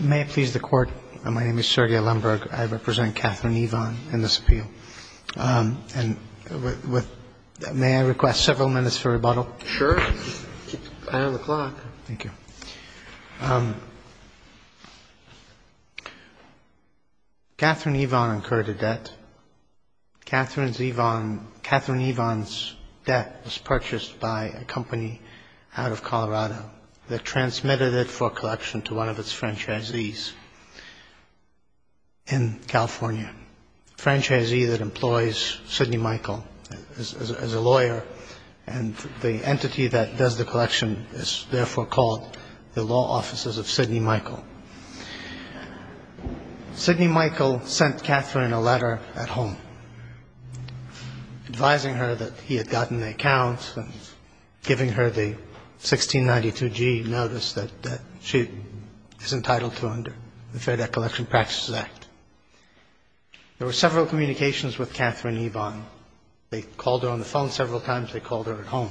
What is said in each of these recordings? May I please the Court? My name is Serdia Lemberg. I represent Catherine Evon in this appeal. And with – may I request several minutes for rebuttal? Sure. I have the clock. Thank you. Catherine Evon incurred a debt. Catherine's Evon – Catherine Evon's debt was purchased by a company out of Colorado that transmitted it for collection to one of its franchisees in California, a franchisee that employs Sidney Mickell as a lawyer. And the entity that does the collection is therefore called the Law Offices of Sidney Mickell. Sidney Mickell sent Catherine a letter at home advising her that he had gotten the accounts and giving her the 1692G notice that she is entitled to under the Fair Debt Collection Practices Act. There were several communications with Catherine Evon. They called her on the phone several times. They called her at home.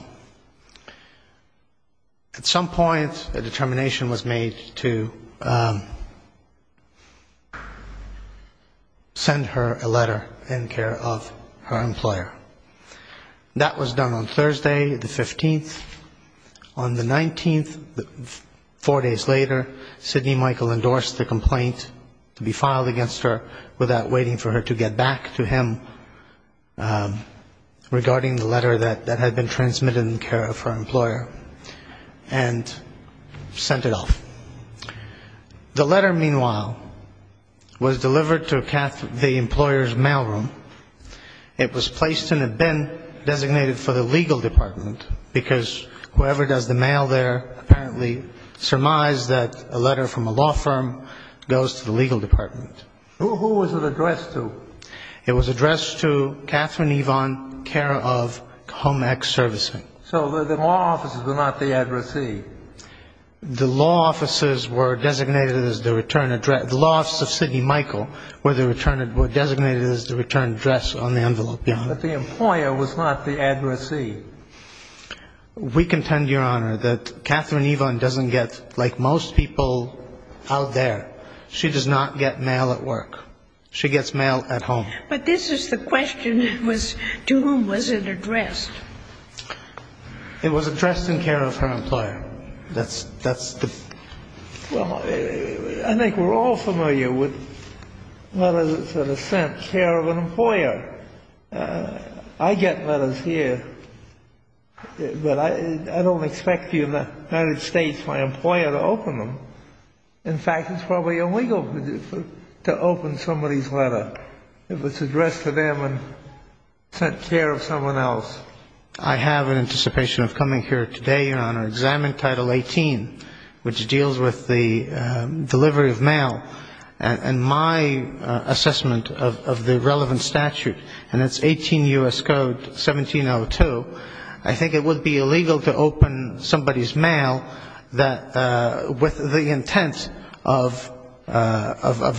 At some point a determination was made to send her a letter in care of her employer. That was done on Thursday the 15th. On the 19th, four days later, Sidney Mickell endorsed the complaint to be filed against her without waiting for her to get back to him regarding the letter that had been transmitted in care of her employer and sent it off. The letter, meanwhile, was delivered to Catherine – the employer's mailroom. It was placed in a bin designated for the legal department because whoever does the mail there apparently surmised that a letter from a law firm goes to the legal department. Who was it addressed to? It was addressed to Catherine Evon, care of Home Ex Servicing. So the law offices were not the addressee? The law offices were designated as the return address. The law offices of Sidney Mickell were designated as the return address on the envelope. But the employer was not the addressee. We contend, Your Honor, that Catherine Evon doesn't get, like most people out there, she does not get mail at work. She gets mail at home. But this is the question. To whom was it addressed? It was addressed in care of her employer. Well, I think we're all familiar with letters that are sent in care of an employer. I get letters here, but I don't expect you in the United States, my employer, to open them. In fact, it's probably illegal to open somebody's letter. It was addressed to them and sent care of someone else. I have an anticipation of coming here today, Your Honor, to examine Title 18, which deals with the delivery of mail, and my assessment of the relevant statute, and it's 18 U.S. Code 1702. I think it would be illegal to open somebody's mail with the intent of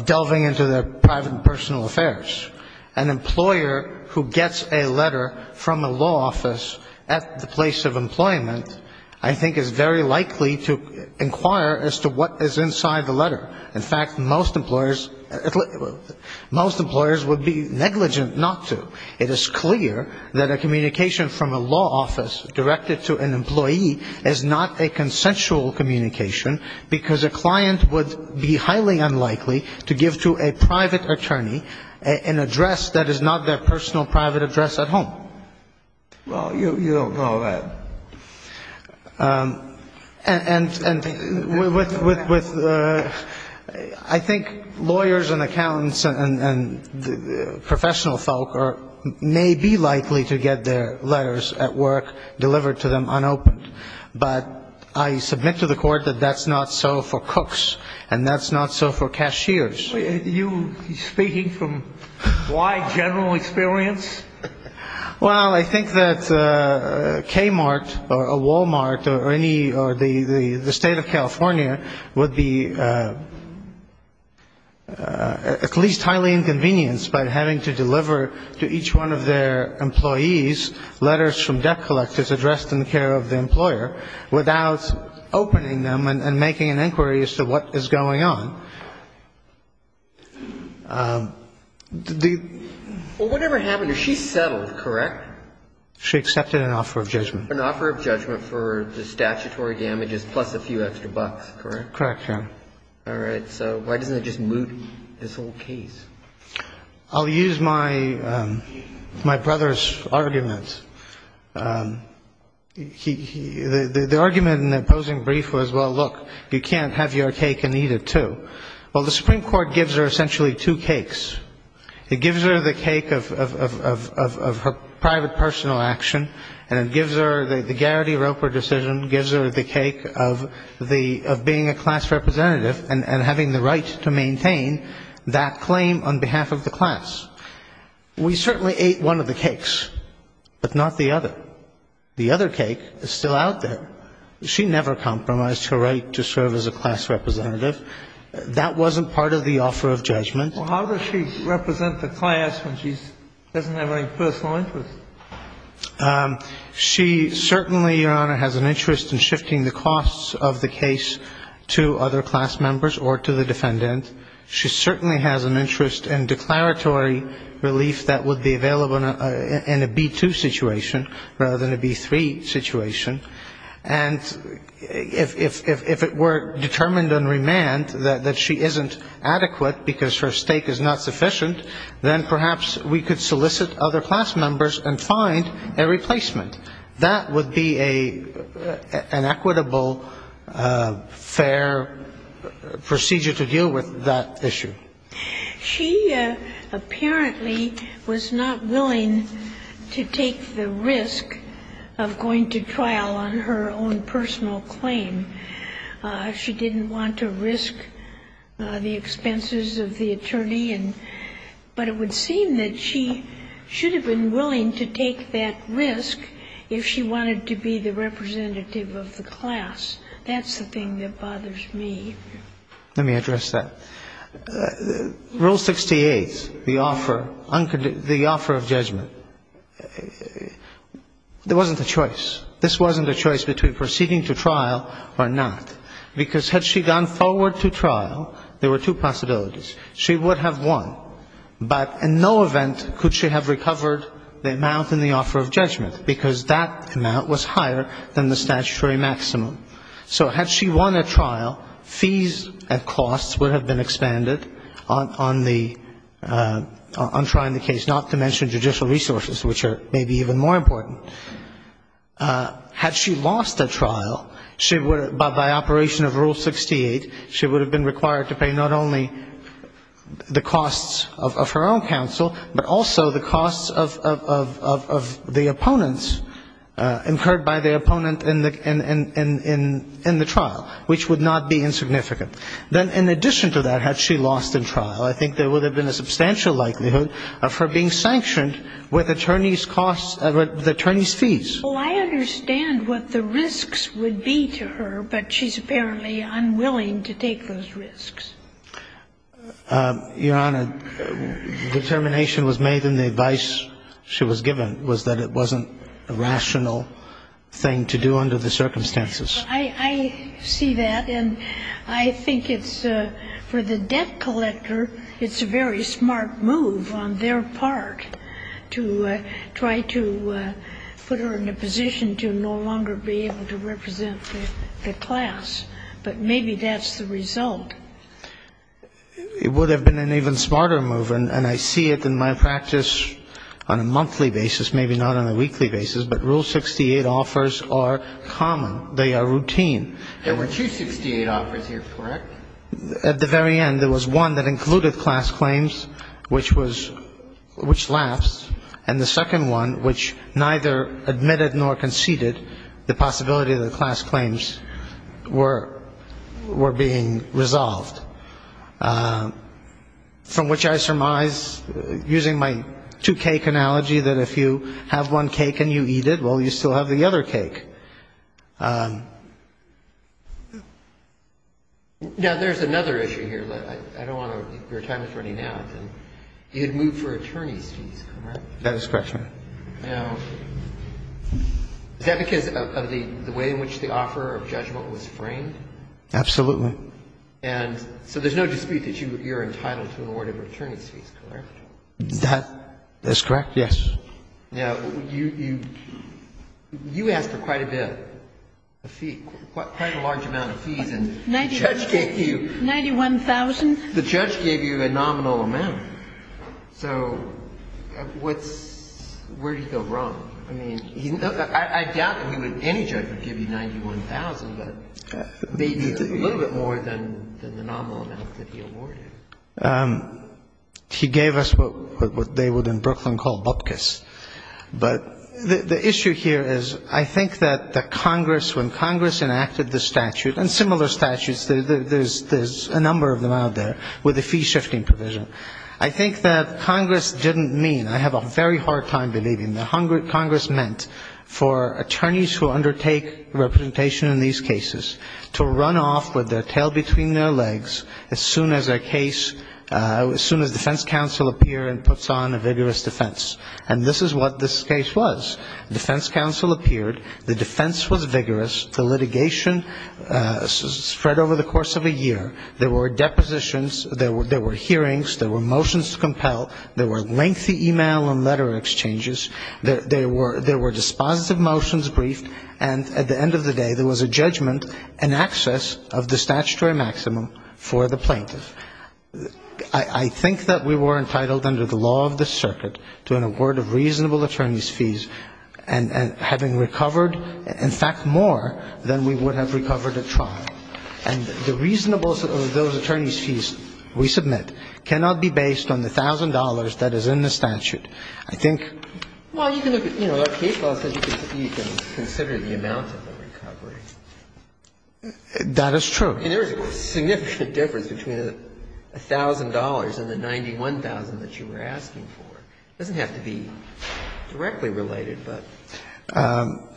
delving into their private and personal affairs. An employer who gets a letter from a law office at the place of employment, I think, is very likely to inquire as to what is inside the letter. In fact, most employers would be negligent not to. It is clear that a communication from a law office directed to an employee is not a consensual communication, because a client would be highly unlikely to give to a private attorney an address that is not their personal private address at home. Well, you don't know that. And I think lawyers and accountants and professional folk may be likely to get their letters at work delivered to them unopened, but I submit to the Court that that's not so for cooks and that's not so for cashiers. Are you speaking from wide general experience? Well, I think that Kmart or Walmart or any or the State of California would be at least highly inconvenienced by having to deliver to each one of their employees letters from debt collectors addressed in the care of the employer without opening them and making an inquiry as to what is going on. Well, whatever happened to her, she settled, correct? She accepted an offer of judgment. An offer of judgment for the statutory damages plus a few extra bucks, correct? Correct, yeah. All right. So why doesn't that just moot this whole case? I'll use my brother's argument. The argument in the opposing brief was, well, look, you can't have your cake and eat it, too. Well, the Supreme Court gives her essentially two cakes. It gives her the cake of her private personal action, and it gives her the Garrity Roper decision, gives her the cake of being a class representative and having the right to maintain that claim, on behalf of the class. We certainly ate one of the cakes, but not the other. The other cake is still out there. She never compromised her right to serve as a class representative. Well, how does she represent the class when she doesn't have any personal interest? She certainly, Your Honor, has an interest in shifting the costs of the case to other class members or to the defendant. She certainly has an interest in declaratory relief that would be available in a B-2 situation rather than a B-3 situation. And if it were determined on remand that she isn't adequate because her status as a class representative is not sufficient, then perhaps we could solicit other class members and find a replacement. That would be an equitable, fair procedure to deal with that issue. She apparently was not willing to take the risk of going to trial on her own personal claim. She didn't want to risk the expenses of the attorney. But it would seem that she should have been willing to take that risk if she wanted to be the representative of the class. That's the thing that bothers me. Let me address that. Rule 68, the offer of judgment, there wasn't a choice. This wasn't a choice between proceeding to trial or not. Because had she gone forward to trial, there were two possibilities. She would have won, but in no event could she have recovered the amount in the offer of judgment, because that amount was higher than the statutory maximum. So had she won at trial, fees and costs would have been expanded on the, on trying the case, not to mention judicial resources, which are maybe even more important. Had she lost at trial, by operation of Rule 68, she would have been required to pay not only the costs of her own counsel, but also the costs of the opponents, incurred by the opponent in the trial, which would not be insignificant. Then in addition to that, had she lost in trial, I think there would have been a substantial likelihood of her being sanctioned with attorney's costs, with attorney's fees. Well, I understand what the risks would be to her, but she's apparently unwilling to take those risks. Your Honor, determination was made, and the advice she was given was that it wasn't appropriate. It wasn't a rational thing to do under the circumstances. I see that, and I think it's, for the debt collector, it's a very smart move on their part to try to put her in a position to no longer be able to represent the class. But maybe that's the result. It would have been an even smarter move, and I see it in my practice on a monthly basis, maybe not on a weekly basis, but Rule 68 offers are common. They are routine. There were two 68 offers here, correct? At the very end, there was one that included class claims, which was — which lapsed, and the second one, which neither admitted nor conceded the possibility of the class claims were being resolved. From which I surmise, using my two-cake analogy, that if you have one cake and you eat it, well, you still have the other cake. Now, there's another issue here. I don't want to be your time attorney now, but you had moved for attorney's fees, correct? That is correct, Your Honor. Now, is that because of the way in which the offer of judgment was framed? Absolutely. And so there's no dispute that you're entitled to an award of attorney's fees, correct? That's correct, yes. Now, you asked for quite a bit, a fee, quite a large amount of fees, and the judge gave you... 91,000. The judge gave you a nominal amount. So what's — where did he go wrong? I mean, I doubt that he would — any judge would give you 91,000, but maybe a little bit more than the nominal amount that he awarded. He gave us what they would in Brooklyn call bupkis. But the issue here is I think that the Congress, when Congress enacted the statute, and similar statutes, there's a number of them out there, with a fee-shifting provision. I think that Congress didn't mean, I have a very hard time believing, that Congress meant for attorneys who undertake representation in these cases to run off with their tail between their legs as soon as a case — as soon as defense counsel appear and puts on a vigorous defense. And this is what this case was. Defense counsel appeared. The defense was vigorous. The litigation spread over the course of a year. There were depositions. There were hearings. There were motions to compel. There were lengthy e-mail and letter exchanges. There were dispositive motions briefed. And at the end of the day, there was a judgment and access of the statutory maximum for the plaintiff. I think that we were entitled under the law of the circuit to an award of reasonable attorneys' fees and having recovered, in fact, more than we would have recovered at trial. And the reasonableness of those attorneys' fees we submit cannot be based on the $1,000 that is in the statute. I think — Well, you can look at — you know, our case law says you can consider the amount of the recovery. That is true. I mean, there is a significant difference between the $1,000 and the $91,000 that you were asking for. It doesn't have to be directly related, but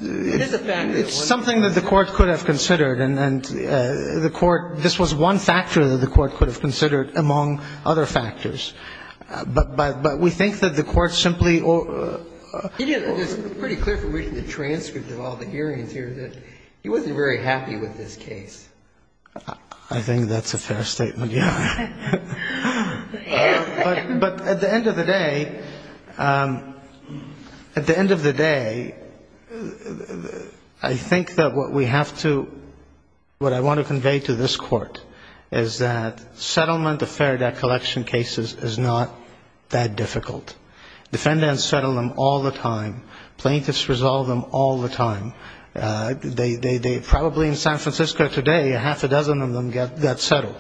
it is a factor. It's something that the Court could have considered. And the Court — this was one factor that the Court could have considered among other factors. But we think that the Court simply — It's pretty clear from reading the transcript of all the hearings here that he wasn't very happy with this case. I think that's a fair statement, yeah. But at the end of the day, at the end of the day, I think that what we have to — what I want to convey to this Court is that settlement of fair debt collection cases is not that difficult. Defendants settle them all the time. Plaintiffs resolve them all the time. Probably in San Francisco today, half a dozen of them got settled.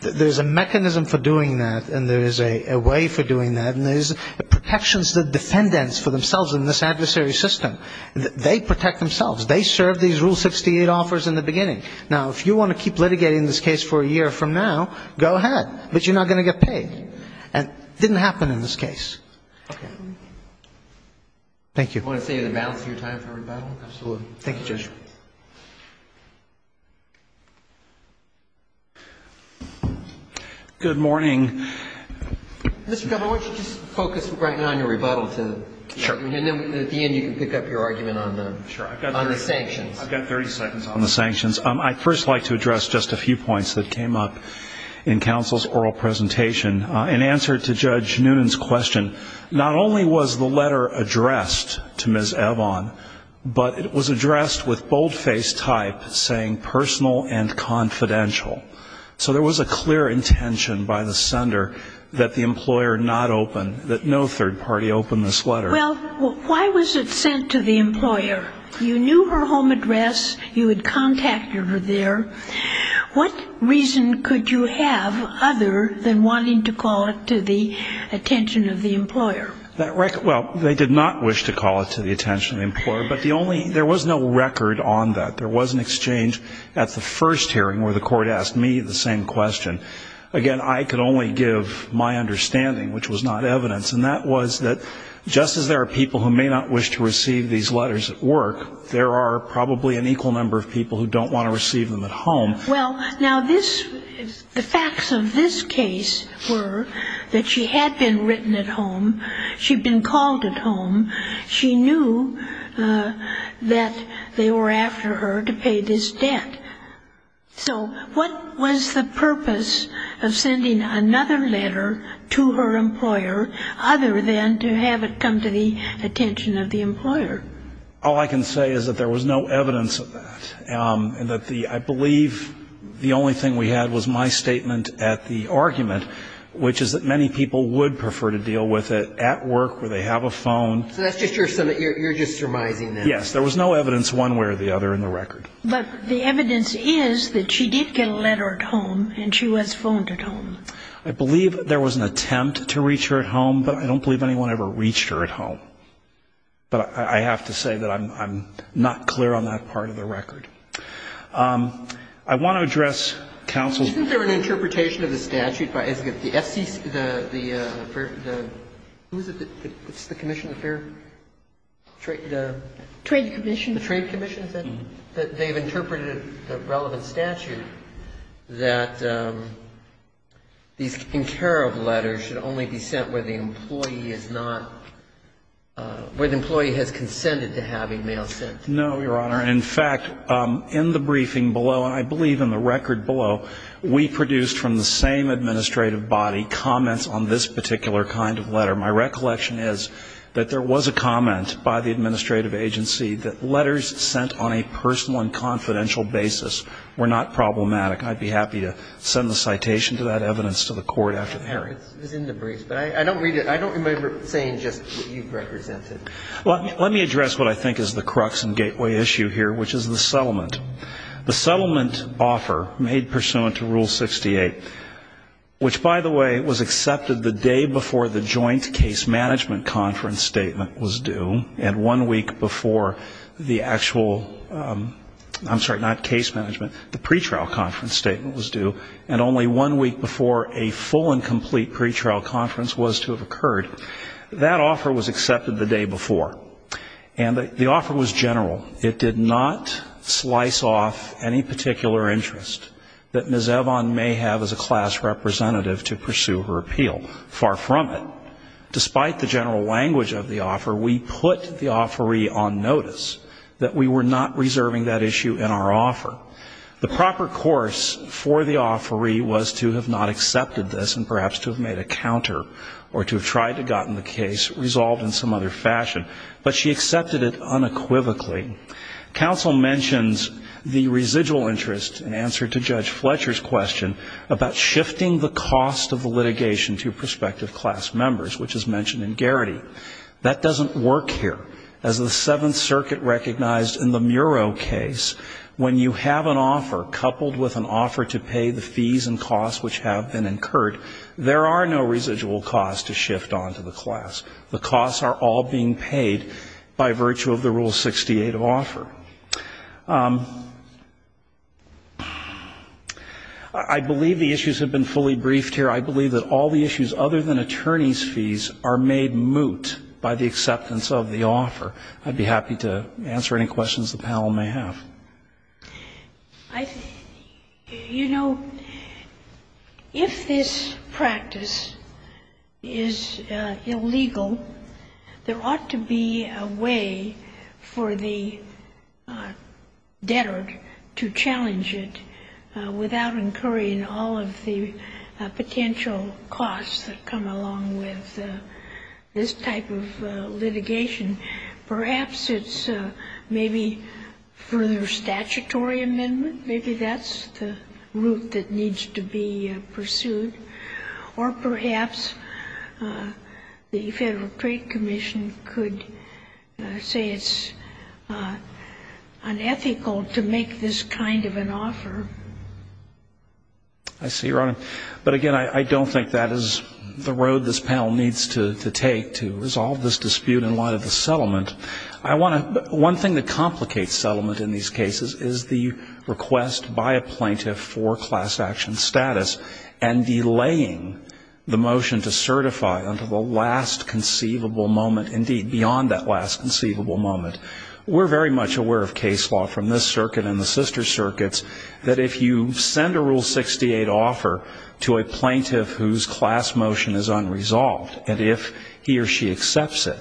There's a mechanism for doing that, and there is a way for doing that, and there's protections that defendants for themselves in this adversary system, they protect themselves. They served these Rule 68 offers in the beginning. Now, if you want to keep litigating this case for a year from now, go ahead, but you're not going to get paid. And it didn't happen in this case. Okay. Thank you. Judge, do you want to save the balance of your time for rebuttal? Absolutely. Thank you, Judge. Good morning. Mr. Governor, why don't you just focus right now on your rebuttal, and then at the end you can pick up your argument on the sanctions. I've got 30 seconds on the sanctions. I'd first like to address just a few points that came up in counsel's oral presentation. In answer to Judge Noonan's question, not only was the letter addressed to Ms. Evon, but it was addressed with boldface type saying personal and confidential. So there was a clear intention by the sender that the employer not open, that no third party open this letter. Well, why was it sent to the employer? You knew her home address. You had contacted her there. What reason could you have other than wanting to call it to the attention of the employer? Well, they did not wish to call it to the attention of the employer. But the only ñ there was no record on that. There was an exchange at the first hearing where the court asked me the same question. Again, I could only give my understanding, which was not evidence. And that was that just as there are people who may not wish to receive these letters at work, there are probably an equal number of people who don't want to receive them at home. Well, now this ñ the facts of this case were that she had been written at home. She'd been called at home. She knew that they were after her to pay this debt. So what was the purpose of sending another letter to her employer other than to have it come to the attention of the employer? All I can say is that there was no evidence of that, and that the ñ I believe the only thing we had was my statement at the argument, which is that many people would prefer to deal with it at work where they have a phone. So that's just your ñ you're just surmising that. Yes. There was no evidence one way or the other in the record. But the evidence is that she did get a letter at home, and she was phoned at home. I believe there was an attempt to reach her at home, but I don't believe anyone ever reached her at home. But I have to say that I'm ñ I'm not clear on that part of the record. I want to address counsel's ñ Isn't there an interpretation of the statute by ñ the FCC ñ the ñ who is it that ñ it's the Commission of Fair ñ the ñ Trade Commission. The Trade Commission, is that it? Mm-hmm. That they've interpreted the relevant statute that these in-care-of letters should only be sent where the employee is not ñ where the employee has consented to having mail sent. No, Your Honor. In fact, in the briefing below, and I believe in the record below, we produced from the same administrative body comments on this particular kind of letter. My recollection is that there was a comment by the administrative agency that letters sent on a personal and confidential basis were not problematic. I'd be happy to send the citation to that evidence to the court after the hearing. It was in the briefs. But I don't read it ñ I don't remember saying just what you've represented. Well, let me address what I think is the crux and gateway issue here, which is the settlement. The settlement offer made pursuant to Rule 68, which, by the way, was accepted the day before the joint case management conference statement was due, and one week before the actual ñ I'm sorry, not case management, the pretrial conference statement was due, and only one week before a full and complete pretrial conference was to have occurred, that offer was accepted the day before. And the offer was general. It did not slice off any particular interest that Ms. Evon may have as a class representative to pursue her appeal. Far from it. Despite the general language of the offer, we put the offeree on notice that we were not reserving that issue in our offer. The proper course for the offeree was to have not accepted this and perhaps to have made a counter or to have tried to have gotten the case resolved in some other fashion. But she accepted it unequivocally. Counsel mentions the residual interest in answer to Judge Fletcher's question about shifting the cost of the litigation to prospective class members, which is mentioned in Garrity. That doesn't work here. As the Seventh Circuit recognized in the Muro case, when you have an offer coupled with an offer to pay the fees and costs which have been incurred, there are no residual costs to shift on to the class. The costs are all being paid by virtue of the Rule 68 offer. I believe the issues have been fully briefed here. I believe that all the issues other than attorney's fees are made moot by the acceptance of the offer. I'd be happy to answer any questions the panel may have. You know, if this practice is illegal, there ought to be a way for the debtor to challenge it without incurring all of the potential costs that come along with this type of litigation. Perhaps it's maybe further statutory amendment. Maybe that's the route that needs to be pursued. Or perhaps the Federal Trade Commission could say it's unethical to make this kind of an offer. I see, Your Honor. But, again, I don't think that is the road this panel needs to take to resolve this dispute in light of the settlement. One thing that complicates settlement in these cases is the request by a plaintiff for class action status and delaying the motion to certify until the last conceivable moment, indeed beyond that last conceivable moment. We're very much aware of case law from this circuit and the sister circuits that if you send a Rule 68 offer to a plaintiff whose class motion is unresolved, and if he or she accepts it,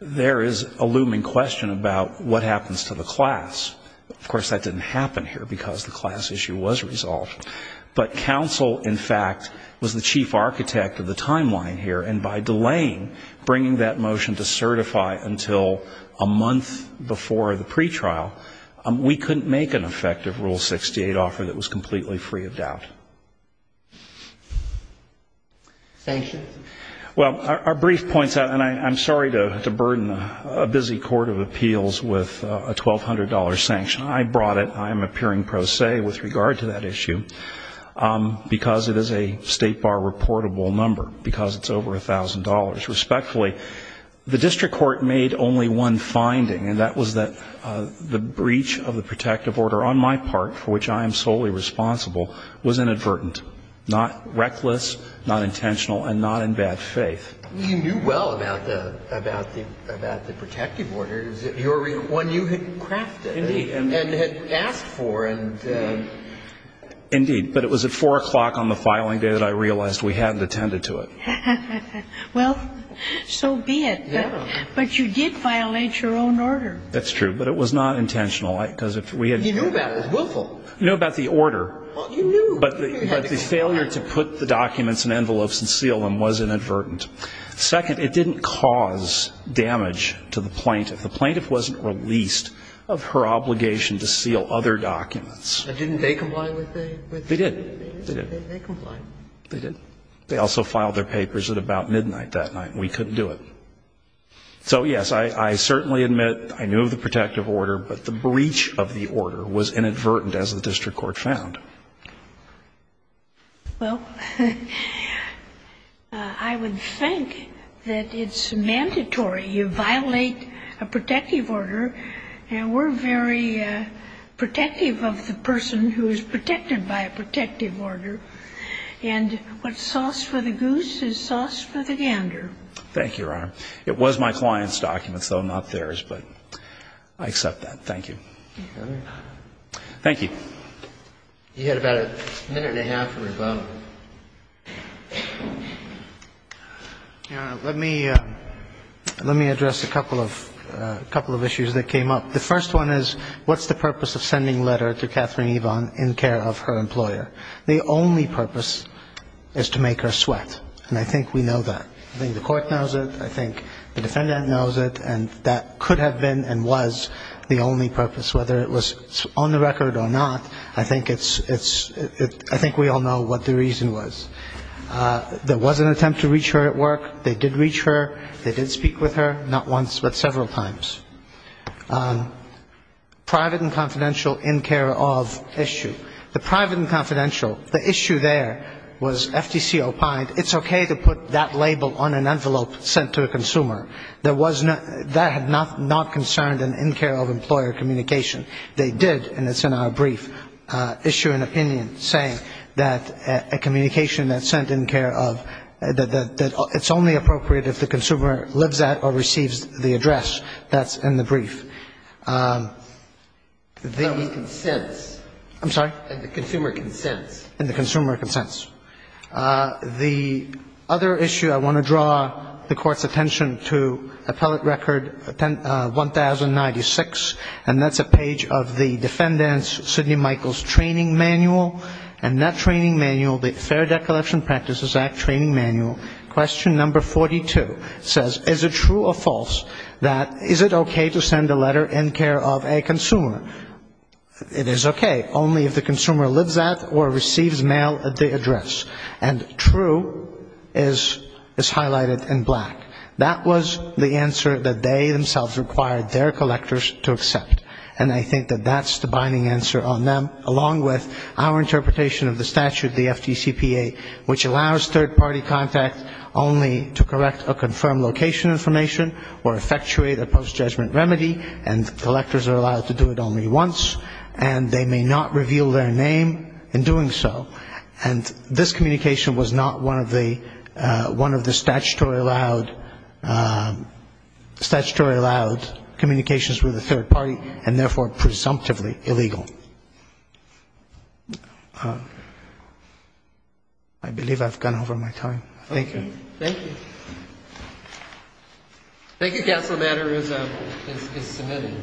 there is a looming question about what happens to the class. Of course, that didn't happen here because the class issue was resolved. But counsel, in fact, was the chief architect of the timeline here, and by delaying bringing that motion to certify until a month before the pretrial, we couldn't make an effective Rule 68 offer that was completely free of doubt. Thank you. Well, our brief points out, and I'm sorry to burden a busy court of appeals with a $1,200 sanction. I brought it. I am appearing pro se with regard to that issue because it is a State Bar reportable number, because it's over $1,000. Respectfully, the district court made only one finding, and that was that the breach of the protective order on my part, for which I am solely responsible, was inadvertent, not reckless, not intentional, and not in bad faith. You knew well about the protective order. Your one you had crafted. Indeed. And had asked for. Indeed. But it was at 4 o'clock on the filing day that I realized we hadn't attended to it. Well, so be it. Yeah. But you did violate your own order. That's true. But it was not intentional. You knew about it. It was willful. You knew about the order. Well, you knew. But the failure to put the documents in envelopes and seal them was inadvertent. Second, it didn't cause damage to the plaintiff. The plaintiff wasn't released of her obligation to seal other documents. Didn't they comply with the? They did. They did. They complied. They did. They also filed their papers at about midnight that night, and we couldn't do it. So, yes, I certainly admit I knew of the protective order, but the breach of the order was inadvertent, as the district court found. Well, I would think that it's mandatory. You violate a protective order, and we're very protective of the person who is protected by a protective order. And what's sauce for the goose is sauce for the gander. Thank you, Your Honor. It was my client's documents, though, not theirs. But I accept that. Thank you. Thank you. You had about a minute and a half or above. Your Honor, let me address a couple of issues that came up. The first one is what's the purpose of sending a letter to Catherine Yvonne in care of her employer? The only purpose is to make her sweat, and I think we know that. I think the court knows it. I think the defendant knows it, and that could have been and was the only purpose, whether it was on the record or not. I think we all know what the reason was. There was an attempt to reach her at work. They did reach her. They did speak with her, not once but several times. Private and confidential in care of issue. The private and confidential, the issue there was FTC opined, it's okay to put that label on an envelope sent to a consumer. That had not concerned an in-care-of-employer communication. They did, and it's in our brief, issue an opinion saying that a communication that's sent in care of, that it's only appropriate if the consumer lives at or receives the address. That's in the brief. In the consents. I'm sorry? In the consumer consents. In the consumer consents. The other issue I want to draw the Court's attention to, appellate record 1096, and that's a page of the defendant's, Sidney Michaels' training manual, and that training manual, the Fair Debt Collection Practices Act training manual, question number 42, says, is it true or false that is it okay to send a letter in care of a consumer? It is okay, only if the consumer lives at or receives mail at the address. And true is highlighted in black. That was the answer that they themselves required their collectors to accept. And I think that that's the binding answer on them, along with our interpretation of the statute, the FTCPA, which allows third-party contact only to correct or confirm location information or effectuate a post-judgment remedy, and collectors are allowed to do it only once, and they may not reveal their name in doing so. And this communication was not one of the statutory allowed communications with a third party, and therefore presumptively illegal. I believe I've gone over my time. Thank you. Thank you. Thank you, Counsel. The matter is submitted.